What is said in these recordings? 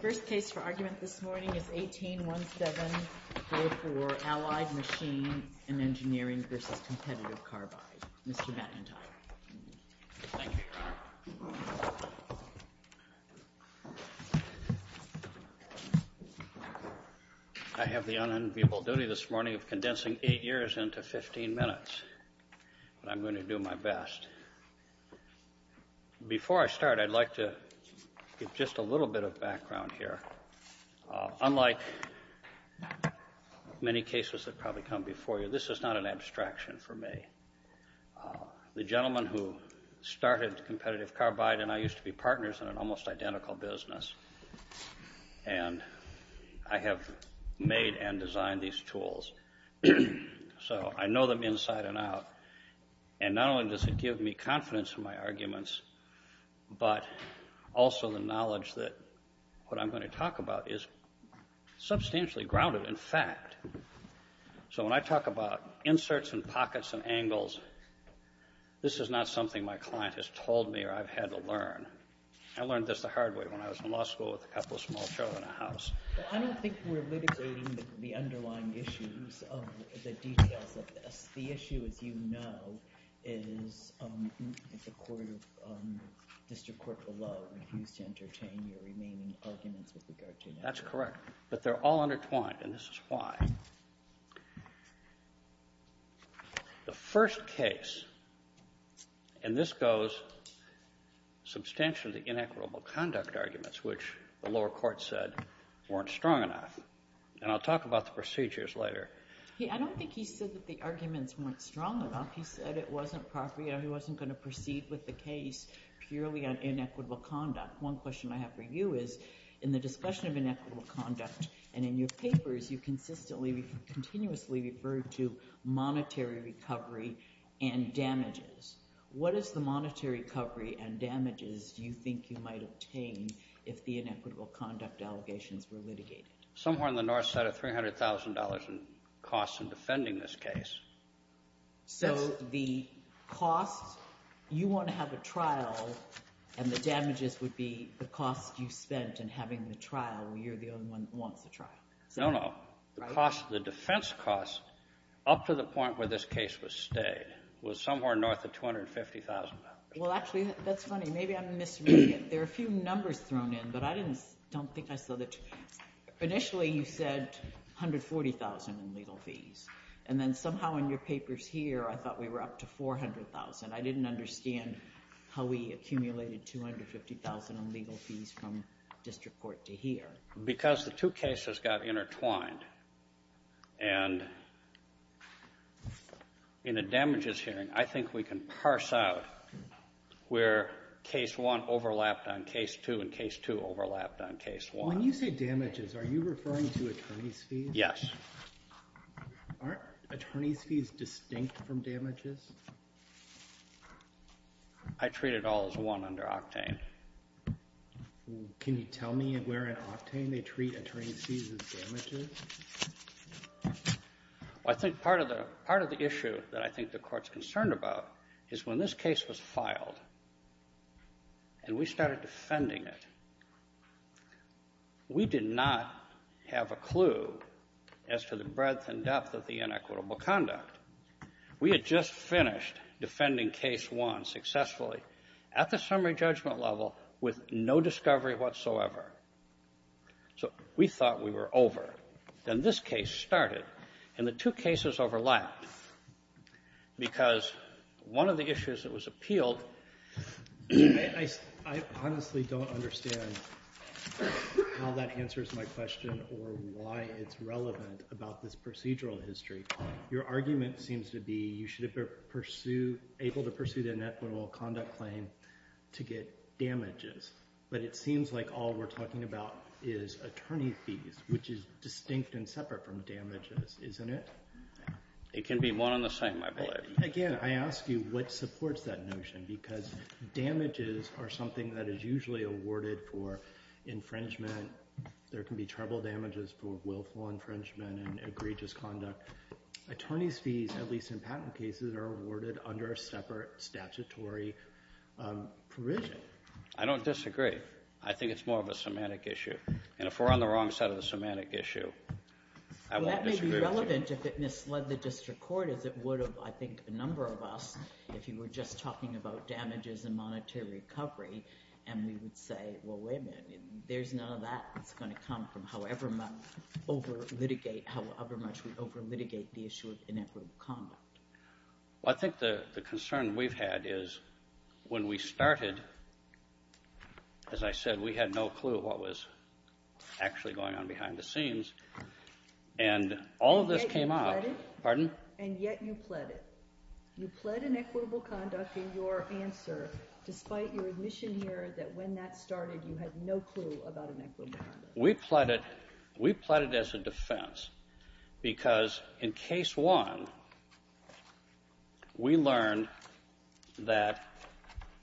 First case for argument this morning is 18-17-04, Allied Machine & Engineering v. Competitive Carbide. Mr. McIntyre. Thank you, Your Honor. I have the unenviable duty this morning of condensing eight years into 15 minutes, but I'm going to do my best. And before I start, I'd like to give just a little bit of background here. Unlike many cases that probably come before you, this is not an abstraction for me. The gentleman who started Competitive Carbide and I used to be partners in an almost identical business and I have made and designed these tools. So, I know them inside and out, and not only does it give me confidence in my arguments, but also the knowledge that what I'm going to talk about is substantially grounded in fact. So, when I talk about inserts and pockets and angles, this is not something my client has told me or I've had to learn. I learned this the hard way when I was in law school with a couple of small children in the house. Well, I don't think we're litigating the underlying issues of the details of this. The issue, as you know, is that the District Court below refused to entertain your remaining arguments with regard to inequity. That's correct. But they're all undertwined, and this is why. The first case, and this goes substantially to inequitable conduct arguments, which the arguments weren't strong enough. And I'll talk about the procedures later. I don't think he said that the arguments weren't strong enough. He said it wasn't property, he wasn't going to proceed with the case purely on inequitable conduct. One question I have for you is, in the discussion of inequitable conduct, and in your papers, you consistently, continuously referred to monetary recovery and damages. How much of the inequitable conduct allegations were litigated? Somewhere on the north side of $300,000 in costs in defending this case. So the cost, you want to have a trial, and the damages would be the cost you spent in having the trial. You're the only one that wants the trial. No, no. The cost, the defense cost, up to the point where this case was stayed, was somewhere north of $250,000. Well, actually, that's funny. Maybe I'm misreading it. There are a few numbers thrown in, but I don't think I saw that. Initially, you said $140,000 in legal fees. And then somehow in your papers here, I thought we were up to $400,000. I didn't understand how we accumulated $250,000 in legal fees from district court to here. Because the two cases got intertwined, and in a damages hearing, I think we can parse out where case one overlapped on case two, and case two overlapped on case one. When you say damages, are you referring to attorney's fees? Yes. Aren't attorney's fees distinct from damages? I treat it all as one under octane. Can you tell me where in octane they treat attorney's fees as damages? Well, I think part of the issue that I think the Court's concerned about is when this case was filed and we started defending it, we did not have a clue as to the breadth and depth of the inequitable conduct. We had just finished defending case one successfully at the summary judgment level with no discovery whatsoever. So we thought we were over. Then this case started, and the two cases overlapped because one of the issues that was appealed... I honestly don't understand how that answers my question or why it's relevant about this procedural history. Your argument seems to be you should have been able to pursue the inequitable conduct claim to get damages. But it seems like all we're talking about is attorney's fees, which is distinct and separate from damages, isn't it? It can be one and the same, I believe. Again, I ask you what supports that notion because damages are something that is usually awarded for infringement. There can be trouble damages for willful infringement and egregious conduct. Attorney's fees, at least in patent cases, are awarded under a separate statutory provision. I don't disagree. I think it's more of a semantic issue. And if we're on the wrong side of the semantic issue, I won't disagree with you. Well, that may be relevant if it misled the district court as it would have, I think, a number of us if you were just talking about damages and monetary recovery. And we would say, well, wait a minute. There's none of that that's going to come from however much we over-litigate the issue of inequitable conduct. Well, I think the concern we've had is when we started, as I said, we had no clue what was actually going on behind the scenes. And all of this came up— And yet you pled it. Pardon? And yet you pled it. You pled inequitable conduct in your answer despite your admission here that when that started you had no clue about inequitable conduct. We pled it. We pled it as a defense because in case one, we learned that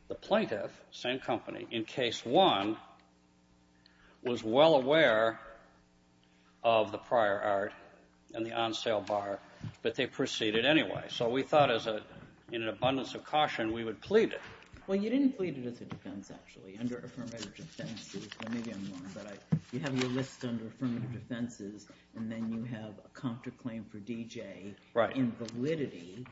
the plaintiff, same company, in case one was well aware of the prior art and the on-sale bar, but they proceeded anyway. So we thought as an abundance of caution we would plead it. Well, you didn't plead it as a defense, actually. Under affirmative defenses—well, maybe I'm wrong, but you have your list under affirmative defenses, and then you have a counterclaim for D.J. Right. Invalidity.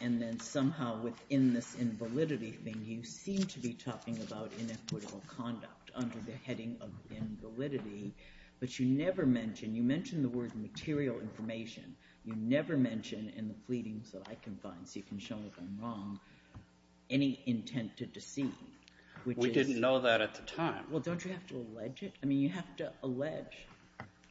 And then somehow within this invalidity thing you seem to be talking about inequitable conduct under the heading of invalidity, but you never mention—you mention the word material information. You never mention in the pleadings that I can find, so you can show me if I'm wrong, any intent to deceive. We didn't know that at the time. Well, don't you have to allege it? I mean, you have to allege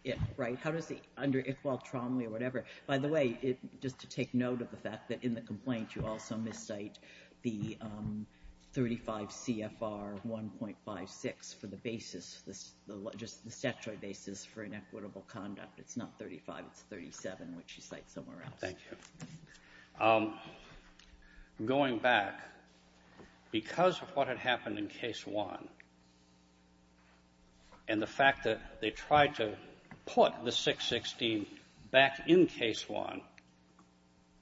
it, right? How does the—under Iqbal Tromley or whatever—by the way, just to take note of the fact that in the complaint you also miscite the 35 CFR 1.56 for the basis, just the statutory basis for inequitable conduct. It's not 35, it's 37, which you cite somewhere else. Thank you. Going back, because of what had happened in Case 1 and the fact that they tried to put the 616 back in Case 1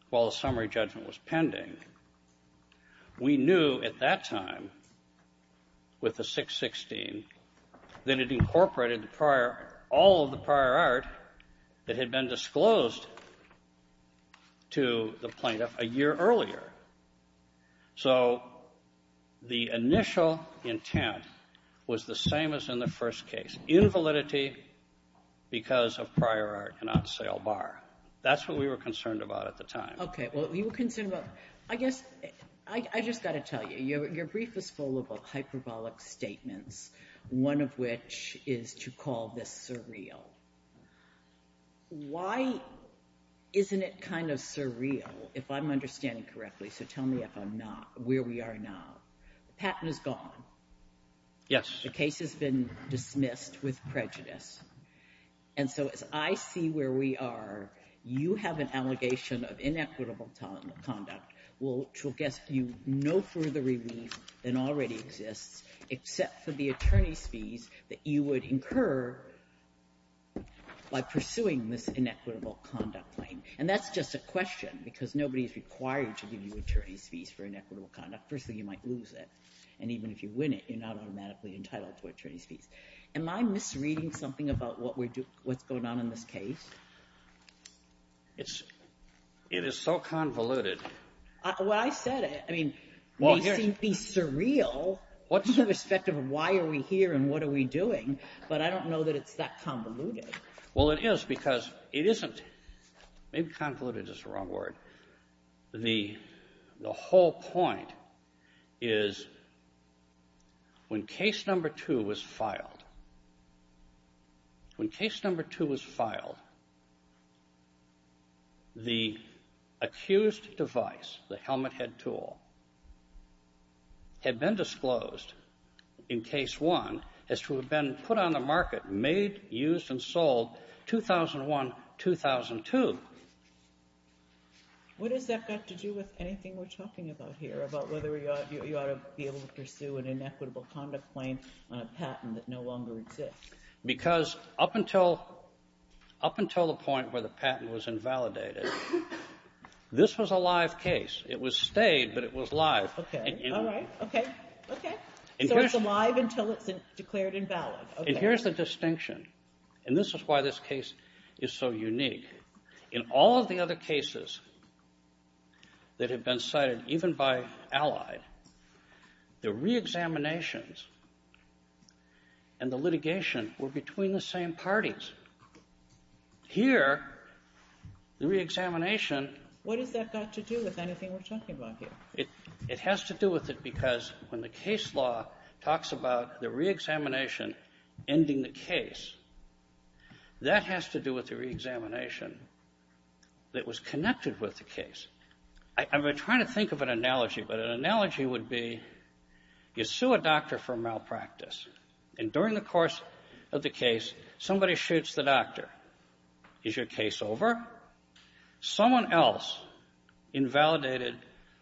while the summary judgment was pending, we knew at that time with the plaintiff a year earlier. So the initial intent was the same as in the first case, invalidity because of prior art and on sale bar. That's what we were concerned about at the time. Okay. Well, you were concerned about—I guess I just got to tell you, your brief is full of hyperbolic statements, one of which is to call this surreal. Why isn't it kind of surreal, if I'm understanding correctly? So tell me if I'm not—where we are now. The patent is gone. Yes. The case has been dismissed with prejudice. And so as I see where we are, you have an allegation of inequitable conduct, which will get you no further relief than already exists, except for the attorney's fees that you would incur by pursuing this inequitable conduct claim. And that's just a question because nobody is required to give you attorney's fees for inequitable conduct. Firstly, you might lose it. And even if you win it, you're not automatically entitled to attorney's fees. Am I misreading something about what's going on in this case? It is so convoluted. Well, I said it. I mean, it may seem to be surreal in respect of why are we here and what are we doing, but I don't know that it's that convoluted. Well, it is because it isn't. Maybe convoluted is the wrong word. The whole point is when Case No. 2 was filed, when Case No. 2 was filed, the accused device, the helmet head tool, had been disclosed in Case 1 as to have been put on the market, made, used, and sold 2001-2002. What has that got to do with anything we're talking about here, about whether you ought to be able to pursue an inequitable conduct claim on a patent that no longer exists? Because up until the point where the patent was invalidated, this was a live case. It was stayed, but it was live. Okay. All right. Okay. Okay. So it's alive until it's declared invalid. Okay. And here's the distinction, and this is why this case is so unique. In all of the other cases that have been cited, even by Allied, the reexaminations and the litigation were between the same parties. Here, the reexamination — What has that got to do with anything we're talking about here? It has to do with it because when the case law talks about the reexamination ending the case, that has to do with the reexamination that was connected with the case. I'm trying to think of an analogy, but an analogy would be you sue a doctor for a malpractice, and during the course of the case, somebody shoots the doctor. Is your case over? Someone else invalidated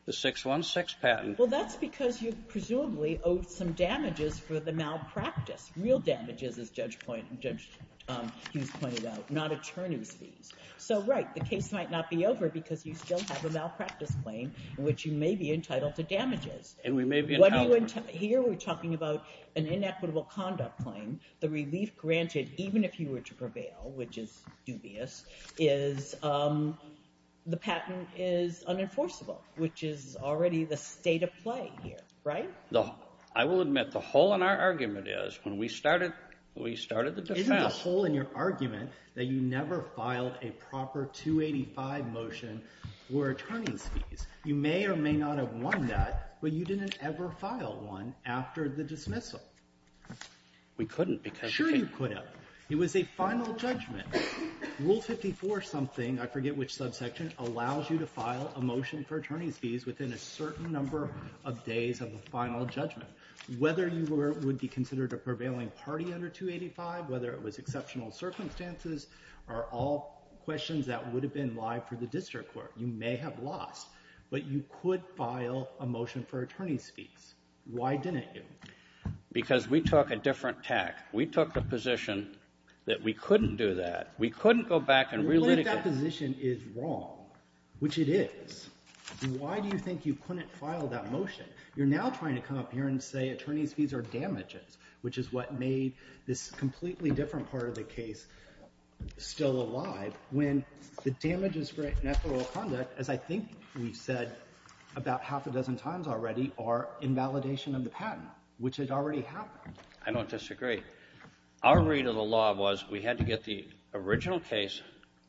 the 616 patent. Well, that's because you presumably owed some damages for the malpractice, real damages, as Judge Hughes pointed out, not attorney's fees. So, right, the case might not be over because you still have a malpractice claim, which you may be entitled to damages. And we may be entitled to them. Here we're talking about an inequitable conduct claim. The relief granted, even if you were to prevail, which is dubious, is the patent is unenforceable, which is already the state of play here, right? I will admit, the hole in our argument is, when we started the defense — Isn't the hole in your argument that you never filed a proper 285 motion for attorney's fees? You may or may not have won that, but you didn't ever file one after the dismissal. We couldn't, because — Sure you could have. It was a final judgment. Rule 54-something, I forget which subsection, allows you to file a motion for attorney's Whether you would be considered a prevailing party under 285, whether it was exceptional circumstances, are all questions that would have been live for the district court. You may have lost, but you could file a motion for attorney's fees. Why didn't you? Because we took a different tack. We took the position that we couldn't do that. We couldn't go back and relitigate — You're saying that position is wrong, which it is. Why do you think you couldn't file that motion? You're now trying to come up here and say attorney's fees are damages, which is what made this completely different part of the case still alive, when the damages for ineffable conduct, as I think we've said about half a dozen times already, are invalidation of the patent, which had already happened. I don't disagree. Our read of the law was we had to get the original case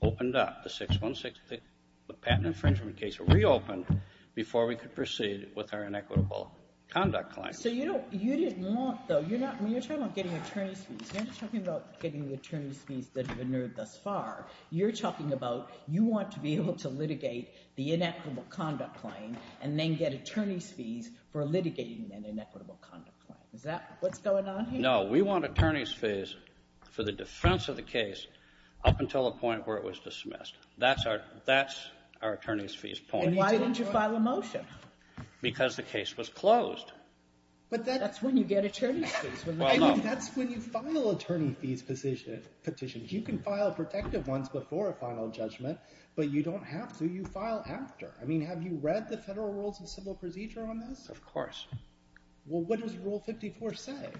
opened up, the 616 — the patent infringement case — reopened before we could proceed with our inequitable conduct claim. So you don't — you didn't want, though — you're not — I mean, you're talking about getting attorney's fees. You're not talking about getting the attorney's fees that have been heard thus far. You're talking about you want to be able to litigate the inequitable conduct claim and then get attorney's fees for litigating an inequitable conduct claim. Is that what's going on here? No. We want attorney's fees for the defense of the case up until the point where it was dismissed. That's our — that's our attorney's fees point. And why didn't you file a motion? Because the case was closed. But that's when you get attorney's fees. Well, no. I mean, that's when you file attorney fees petitions. You can file protective ones before a final judgment, but you don't have to. You file after. I mean, have you read the Federal Rules of Civil Procedure on this? Of course. Well, what does Rule 54 say?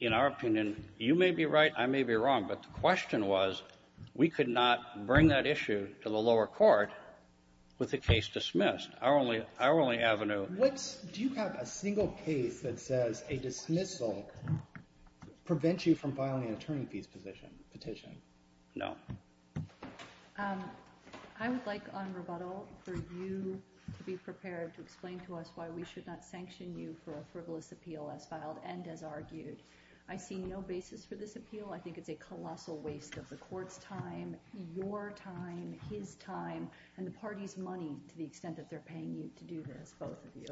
In our opinion, you may be right, I may be wrong, but the question was we could not bring that issue to the lower court with the case dismissed. Our only — our only avenue — What's — do you have a single case that says a dismissal prevents you from filing an attorney fees position — petition? No. I would like on rebuttal for you to be prepared to explain to us why we should not sanction you for a frivolous appeal as filed and as argued. I see no basis for this appeal. I think it's a colossal waste of the court's time, your time, his time, and the party's money to the extent that they're paying you to do this, both of you.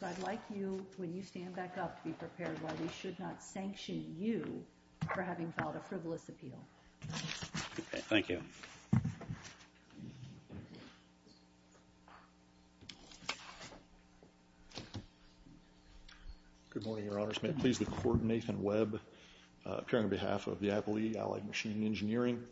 So I'd like you, when you stand back up, to be prepared why we should not sanction you for having filed a frivolous appeal. Thank you. Good morning, Your Honors. May it please the Court, Nathan Webb, appearing on behalf of the Appellee Allied Machine Engineering.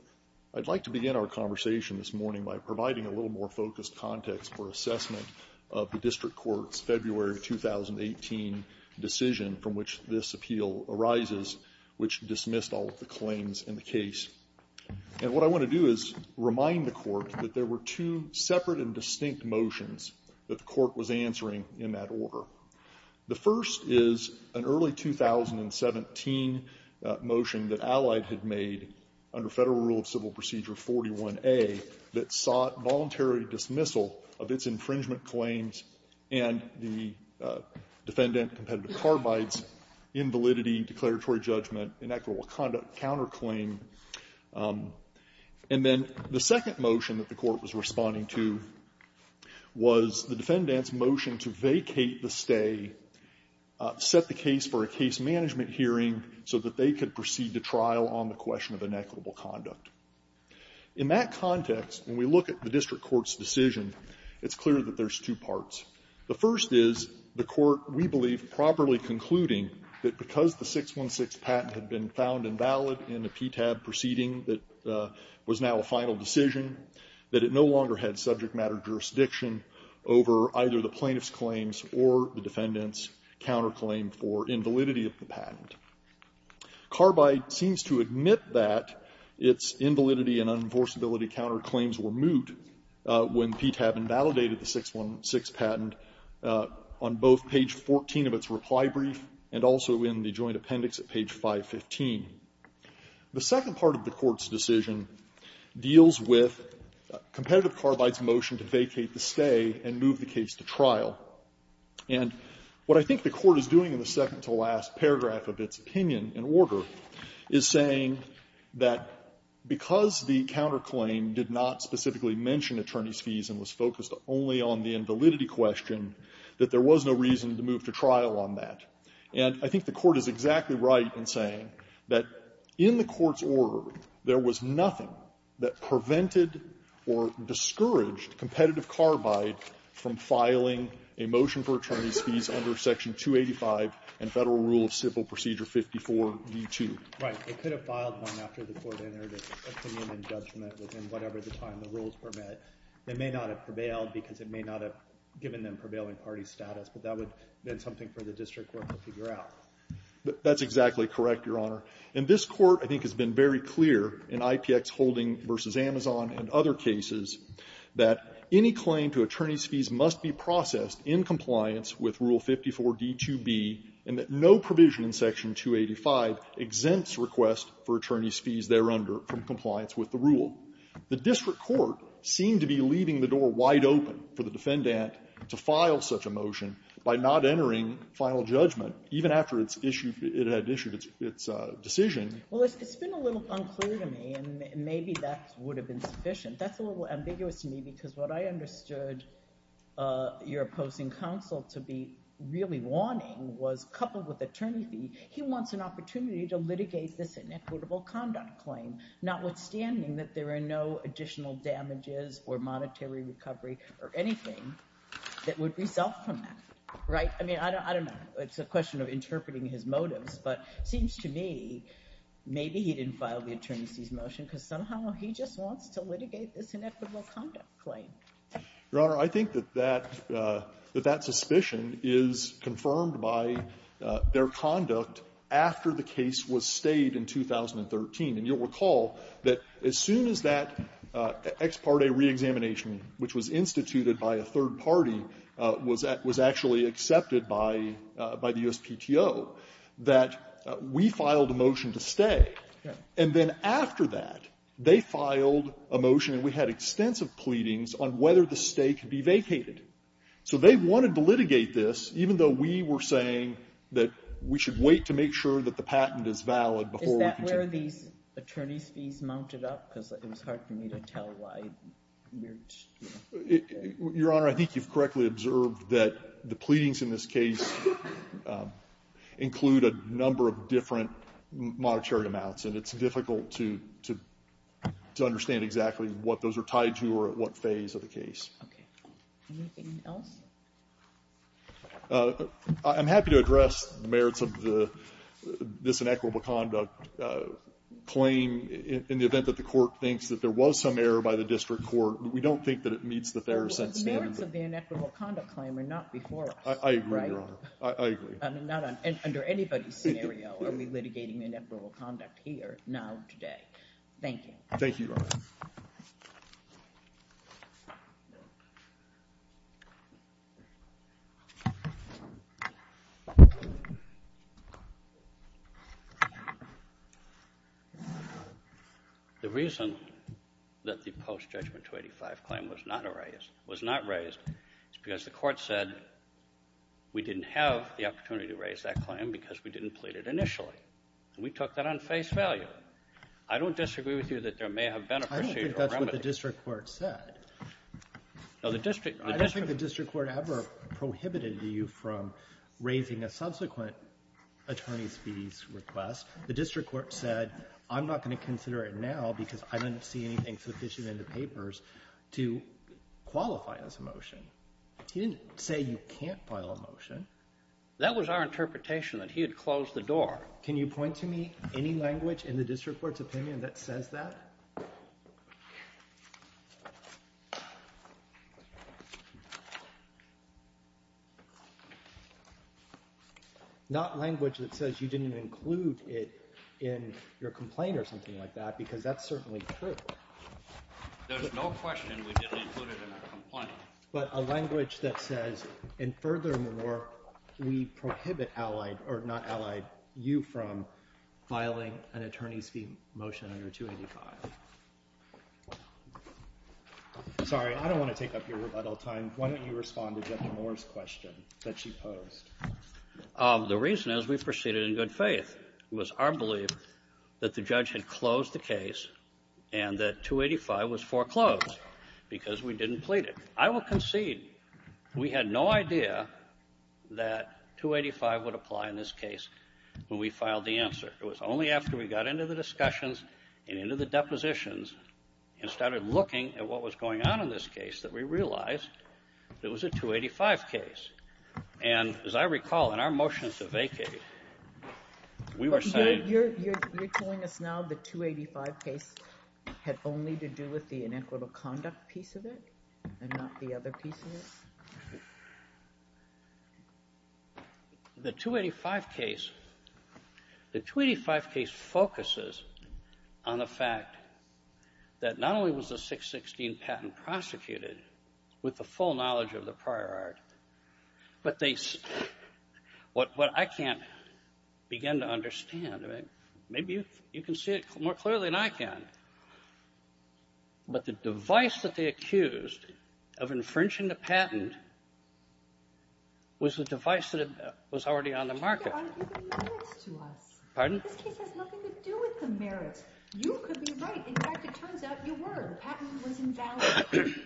I'd like to begin our conversation this morning by providing a little more focused context for assessment of the district court's February 2018 decision from which this appeal arises, which dismissed all of the claims in the case. And what I want to do is remind the court that there were two separate and distinct motions that the court was answering in that order. The first is an early 2017 motion that Allied had made under Federal Rule of Civil Procedure 41A that sought voluntary dismissal of its infringement claims and the defendant competitive carbides, invalidity, declaratory judgment, and equitable conduct counterclaim. And then the second motion that the court was responding to was the defendant's motion to vacate the stay, set the case for a case management hearing so that they could proceed to trial on the question of inequitable conduct. In that context, when we look at the district court's decision, it's clear that there's two parts. The first is the court, we believe, properly concluding that because the 616 patent had been found invalid in the PTAB proceeding that was now a final decision, that it no longer had subject matter jurisdiction over either the plaintiff's claims or the defendant's counterclaim for invalidity of the patent. Carbide seems to admit that its invalidity and unenforceability counterclaims were moot when PTAB invalidated the 616 patent on both page 14 of its reply brief and also in the joint appendix at page 515. The second part of the court's decision deals with competitive carbide's motion to vacate the stay and move the case to trial. And what I think the court is doing in the second-to-last paragraph of its opinion in order is saying that because the counterclaim did not specifically mention attorneys' fees and was focused only on the invalidity question, that there was no reason to move to trial on that. And I think the court is exactly right in saying that in the court's order, there was nothing that prevented or discouraged competitive carbide from filing a motion for attorneys' fees under Section 285 and Federal Rule of Civil Procedure 54-D2. Right. It could have filed one after the court entered its opinion and judgment within whatever the time the rules were met. It may not have prevailed because it may not have given them prevailing party status, but that would have been something for the district court to figure out. That's exactly correct, Your Honor. And this court, I think, has been very clear in IPX Holding v. Amazon and other cases that any claim to attorneys' fees must be processed in compliance with Rule 285, exempts requests for attorneys' fees thereunder from compliance with the rule. The district court seemed to be leaving the door wide open for the defendant to file such a motion by not entering final judgment, even after it's issued its decision. Well, it's been a little unclear to me, and maybe that would have been sufficient. That's a little ambiguous to me because what I understood your opposing counsel to be really wanting was, coupled with attorney fee, he wants an opportunity to litigate this inequitable conduct claim, notwithstanding that there are no additional damages or monetary recovery or anything that would result from that. Right? I mean, I don't know. It's a question of interpreting his motives, but it seems to me maybe he didn't file the attorney's motion because somehow he just wants to litigate this inequitable conduct claim. Your Honor, I think that that suspicion is confirmed by their conduct after the case was stayed in 2013. And you'll recall that as soon as that ex parte reexamination, which was instituted by a third party, was actually accepted by the USPTO, that we filed a motion to stay. And then after that, they filed a motion, and we had extensive pleadings, on whether the stay could be vacated. So they wanted to litigate this, even though we were saying that we should wait to make sure that the patent is valid before we can take it. Is that where these attorney's fees mounted up? Because it was hard for me to tell why. Your Honor, I think you've correctly observed that the pleadings in this case include a number of different monetary amounts. And it's difficult to understand exactly what those are tied to or at what phase of the case. Okay. Anything else? I'm happy to address merits of this inequitable conduct claim in the event that the Court thinks that there was some error by the district court. We don't think that it meets the fairer sense standard. But the merits of the inequitable conduct claim are not before us, right? I agree, Your Honor. I agree. Not under anybody's scenario are we litigating inequitable conduct here, now, today. Thank you. Thank you, Your Honor. The reason that the post-judgment 285 claim was not raised is because the court said we didn't have the opportunity to raise that claim because we didn't plead it initially. And we took that on face value. I don't disagree with you that there may have been a procedural remedy. I don't think that's what the district court said. No, the district court — I don't think the district court ever prohibited you from raising a subsequent attorney's fees request. The district court said, I'm not going to consider it now because I don't see anything sufficient in the papers to qualify as a motion. He didn't say you can't file a motion. That was our interpretation, that he had closed the door. Can you point to me any language in the district court's opinion that says that? Not language that says you didn't include it in your complaint or something like that because that's certainly true. There's no question we didn't include it in our complaint. But a language that says, and furthermore, we prohibit allied or not allied you from filing an attorney's fee motion under 285. Sorry, I don't want to take up your rebuttal time. Why don't you respond to Judge Moore's question that she posed? The reason is we proceeded in good faith. It was our belief that the judge had closed the case and that 285 was foreclosed because we didn't plead it. I will concede we had no idea that 285 would apply in this case when we filed the answer. It was only after we got into the discussions and into the depositions and started looking at what was going on in this case that we realized it was a 285 case. And as I recall, in our motion to vacate, we were saying — You're telling us now the 285 case had only to do with the inequitable conduct piece of it and not the other piece of it? The 285 case focuses on the fact that not only was the 616 patent prosecuted with the full knowledge of the prior art, but they — what I can't begin to understand. Maybe you can see it more clearly than I can. But the device that they accused of infringing the patent was the device that was already on the market. You're giving merits to us. Pardon? This case has nothing to do with the merits. You could be right. In fact, it turns out you were. The patent was invalid.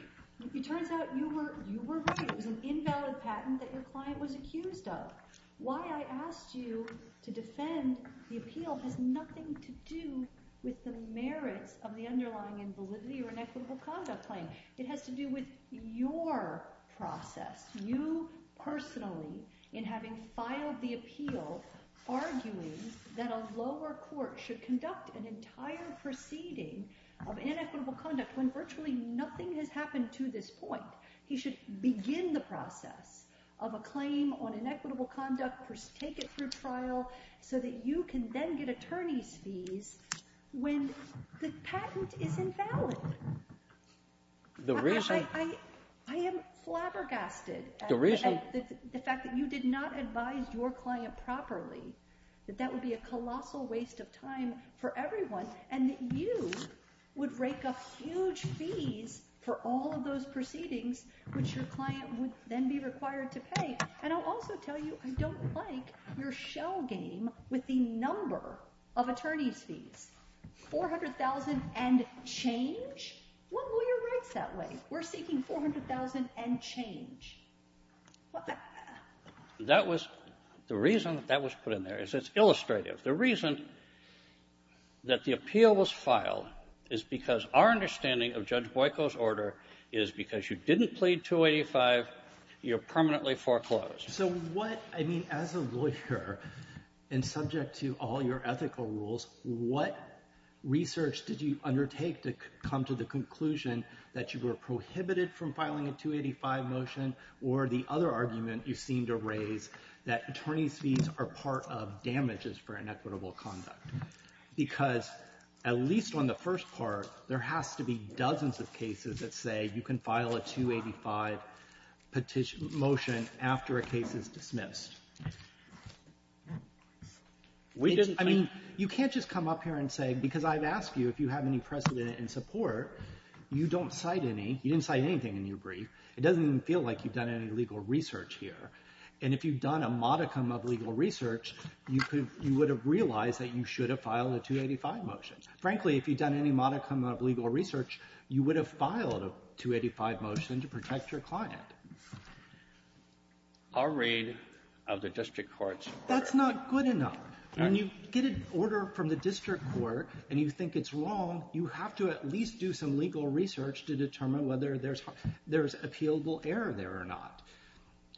It turns out you were right. It was an invalid patent that your client was accused of. Why I asked you to defend the appeal has nothing to do with the merits of the underlying invalidity or inequitable conduct claim. It has to do with your process, you personally, in having filed the appeal arguing that a lower court should conduct an entire proceeding of inequitable conduct when virtually nothing has happened to this point. He should begin the process of a claim on inequitable conduct, take it through trial, so that you can then get attorney's fees when the patent is invalid. The reason — I am flabbergasted at the fact that you did not advise your client properly, that that would be a colossal waste of time for everyone, and that you would rake up huge fees for all of those proceedings, which your client would then be required to pay. And I'll also tell you I don't like your shell game with the number of attorney's fees. $400,000 and change? What were your rights that way? We're seeking $400,000 and change. That was — the reason that that was put in there is it's illustrative. The reason that the appeal was filed is because our understanding of Judge Boyko's order is because you didn't plead 285, you're permanently foreclosed. So what — I mean, as a lawyer, and subject to all your ethical rules, what research did you undertake to come to the conclusion that you were prohibited from filing a 285 motion or the other argument you seem to raise, that attorney's fees are part of damages for inequitable conduct? Because at least on the first part, there has to be dozens of cases that say you can file a 285 motion after a case is dismissed. I mean, you can't just come up here and say — because I've asked you if you have any precedent in support. You don't cite any. You didn't cite anything in your brief. It doesn't even feel like you've done any legal research here. And if you've done a modicum of legal research, you would have realized that you should have filed a 285 motion. Frankly, if you've done any modicum of legal research, you would have filed a 285 motion to protect your client. I'll read of the district court's order. That's not good enough. When you get an order from the district court and you think it's wrong, you have to at least do some legal research to determine whether there's appealable error there or not.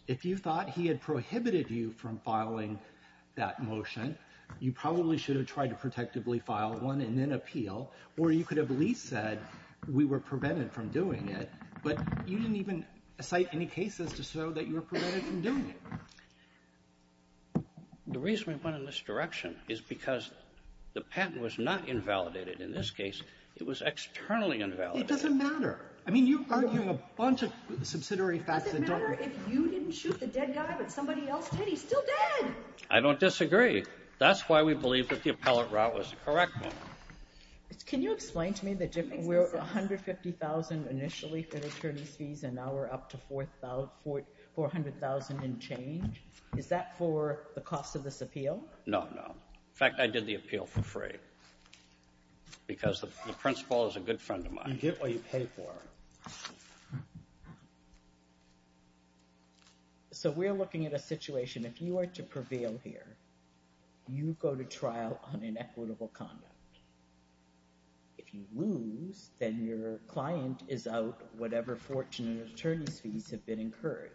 If you thought he had prohibited you from filing that motion, you probably should have tried to protectively file one and then appeal, or you could have at least said we were prevented from doing it, but you didn't even cite any cases to show that you were prevented from doing it. The reason we went in this direction is because the patent was not invalidated. In this case, it was externally invalidated. It doesn't matter. I mean, you argue a bunch of subsidiary facts. It doesn't matter if you didn't shoot the dead guy, but somebody else did. He's still dead. I don't disagree. That's why we believe that the appellate route was the correct one. Can you explain to me the difference? We're at $150,000 initially for attorney's fees, and now we're up to $400,000 and change. Is that for the cost of this appeal? No, no. In fact, I did the appeal for free because the principal is a good friend of mine. You get what you pay for. So we're looking at a situation. If you are to prevail here, you go to trial on inequitable conduct. If you lose, then your client is out whatever fortune and attorney's fees have been incurred.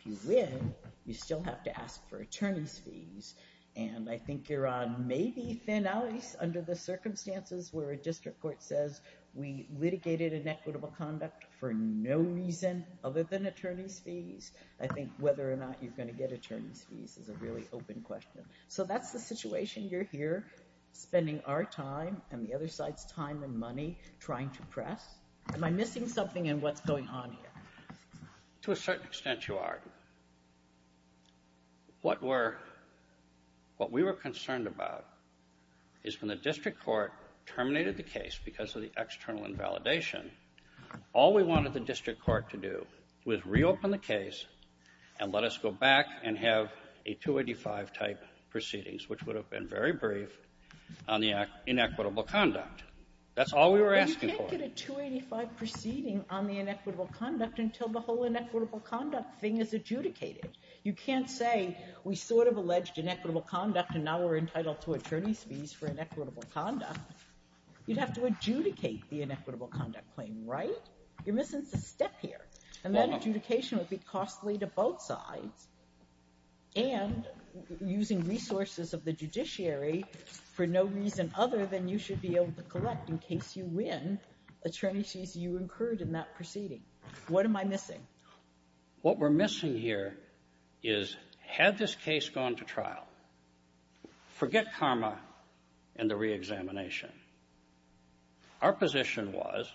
If you win, you still have to ask for attorney's fees, and I think you're on maybe thin ice under the circumstances where a district court says, we litigated inequitable conduct for no reason other than attorney's fees. I think whether or not you're going to get attorney's fees is a really open question. So that's the situation you're here spending our time and the other side's time and money trying to press. Am I missing something in what's going on here? To a certain extent, you are. What we were concerned about is when the district court terminated the case because of the external invalidation, all we wanted the district court to do was reopen the case and let us go back and have a 285-type proceedings, which would have been very brief on the inequitable conduct. That's all we were asking for. But you can't get a 285 proceeding on the inequitable conduct until the whole inequitable conduct thing is adjudicated. You can't say we sort of alleged inequitable conduct and now we're entitled to attorney's fees for inequitable conduct. You'd have to adjudicate the inequitable conduct claim, right? You're missing a step here. And that adjudication would be costly to both sides and using resources of the judiciary for no reason other than you should be able to collect, in case you win, attorney's fees you incurred in that proceeding. What am I missing? What we're missing here is had this case gone to trial, forget karma and the reexamination. Our position was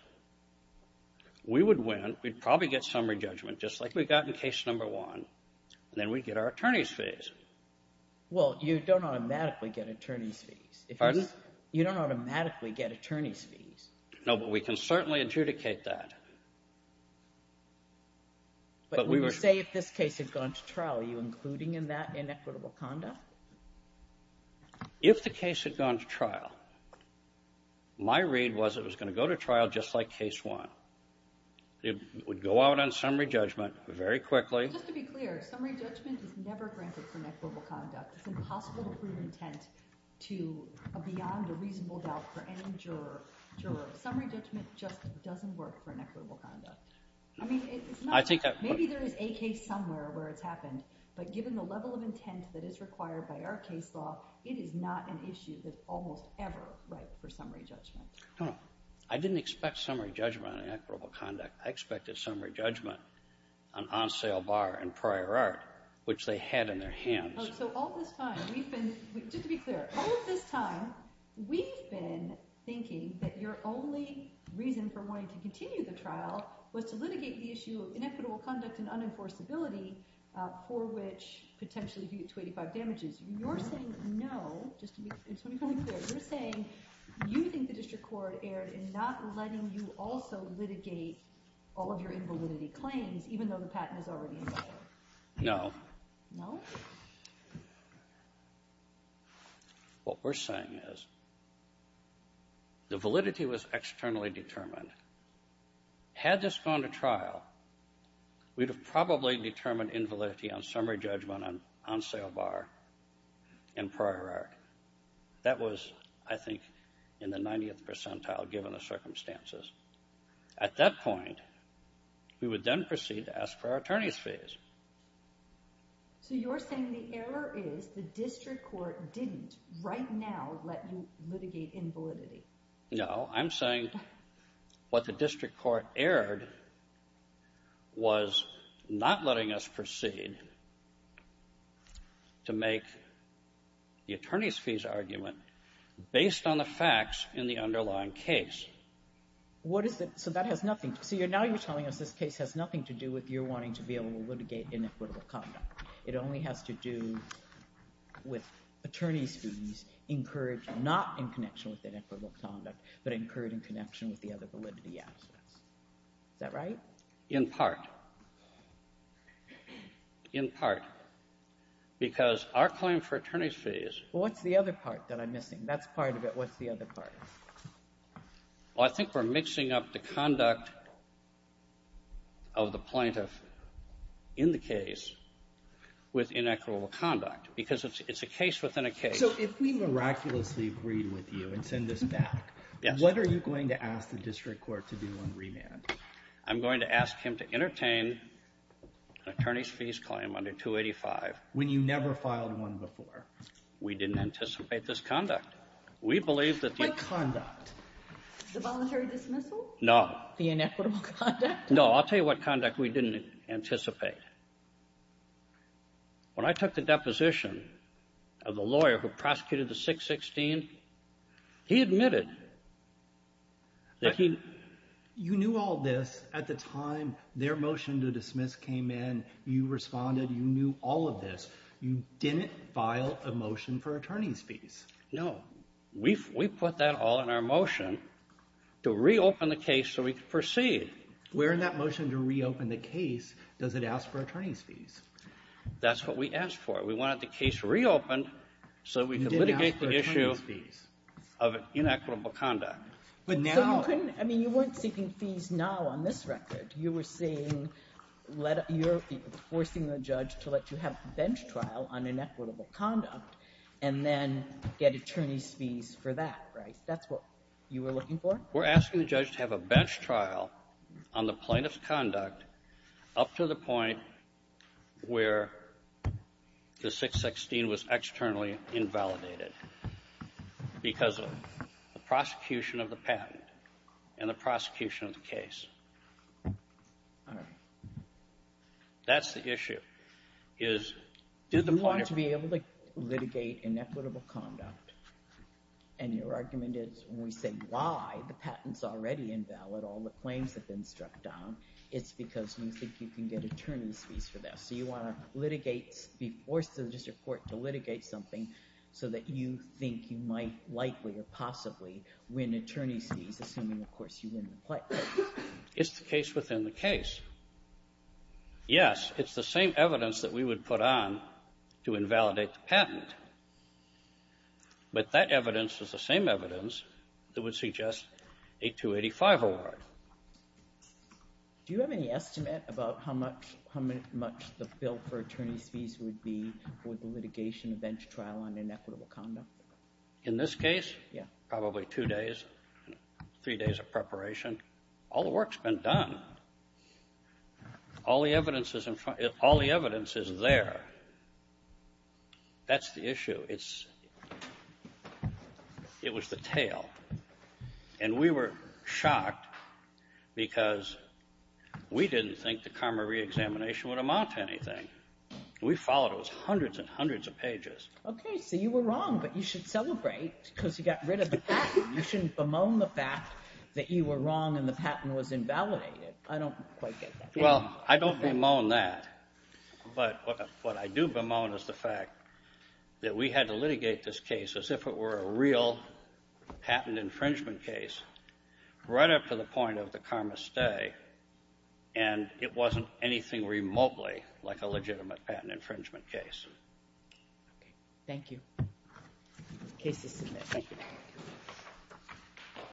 we would win, we'd probably get summary judgment, just like we got in case number one, and then we'd get our attorney's fees. Well, you don't automatically get attorney's fees. Pardon? You don't automatically get attorney's fees. No, but we can certainly adjudicate that. But when you say if this case had gone to trial, are you including in that inequitable conduct? If the case had gone to trial, my read was it was going to go to trial just like case one. It would go out on summary judgment very quickly. Just to be clear, summary judgment is never granted for inequitable conduct. It's impossible to prove intent beyond a reasonable doubt for any juror. Summary judgment just doesn't work for inequitable conduct. I mean, maybe there is a case somewhere where it's happened, but given the level of intent that is required by our case law, it is not an issue that's almost ever right for summary judgment. I didn't expect summary judgment on inequitable conduct. I expected summary judgment on on-sale bar and prior art, which they had in their hands. So all this time, just to be clear, all this time, we've been thinking that your only reason for wanting to continue the trial was to litigate the issue of inequitable conduct and unenforceability, for which potentially due to 85 damages. You're saying no, just to be completely clear. You're saying you think the district court erred in not letting you also litigate all of your invalidity claims, even though the patent is already in play. No. No? What we're saying is the validity was externally determined. Had this gone to trial, we'd have probably determined invalidity on summary judgment on on-sale bar and prior art. That was, I think, in the 90th percentile, given the circumstances. At that point, we would then proceed to ask for our attorneys' fees. So you're saying the error is the district court didn't right now let you litigate invalidity. No. I'm saying what the district court erred was not letting us proceed to make the attorneys' fees argument based on the facts in the underlying case. What is the—so that has nothing—so now you're telling us this case has nothing to do with your wanting to be able to litigate inequitable conduct. It only has to do with attorneys' fees encouraged not in connection with inequitable conduct, but encouraged in connection with the other validity aspects. Is that right? In part. In part. Because our claim for attorneys' fees— Well, what's the other part that I'm missing? That's part of it. What's the other part? Well, I think we're mixing up the conduct of the plaintiff in the case with inequitable conduct because it's a case within a case. So if we miraculously agreed with you and send this back, what are you going to ask the district court to do on remand? I'm going to ask him to entertain an attorneys' fees claim under 285. When you never filed one before. We didn't anticipate this conduct. What conduct? The voluntary dismissal? No. The inequitable conduct? No, I'll tell you what conduct we didn't anticipate. When I took the deposition of the lawyer who prosecuted the 616, he admitted that he— You knew all this at the time their motion to dismiss came in. You responded. You knew all of this. You didn't file a motion for attorneys' fees. No. We put that all in our motion to reopen the case so we could proceed. We're in that motion to reopen the case. Does it ask for attorneys' fees? That's what we asked for. We wanted the case reopened so we could litigate the issue of inequitable conduct. But now — So you couldn't — I mean, you weren't seeking fees now on this record. You were forcing the judge to let you have a bench trial on inequitable conduct and then get attorneys' fees for that, right? That's what you were looking for? We're asking the judge to have a bench trial on the plaintiff's conduct up to the point where the 616 was externally invalidated because of the prosecution of the patent and the prosecution of the case. All right. That's the issue, is — Do you want to be able to litigate inequitable conduct? And your argument is when we say why the patent's already invalid, all the claims have been struck down, it's because you think you can get attorneys' fees for that. So you want to litigate — be forced to the district court to litigate something so that you think you might likely or possibly win attorneys' fees, assuming, of course, you win the case. It's the case within the case. Yes, it's the same evidence that we would put on to invalidate the patent. But that evidence is the same evidence that would suggest a 285 award. Do you have any estimate about how much the bill for attorneys' fees would be for the litigation of bench trial on inequitable conduct? In this case, probably two days, three days of preparation. All the work's been done. All the evidence is there. That's the issue. It was the tail. And we were shocked because we didn't think the karma reexamination would amount to anything. We followed those hundreds and hundreds of pages. Okay, so you were wrong, but you should celebrate because you got rid of the patent. You shouldn't bemoan the fact that you were wrong and the patent was invalidated. I don't quite get that. Well, I don't bemoan that. But what I do bemoan is the fact that we had to litigate this case as if it were a real patent infringement case, right up to the point of the karma stay, and it wasn't anything remotely like a legitimate patent infringement case. Okay, thank you. Case is submitted. Thank you.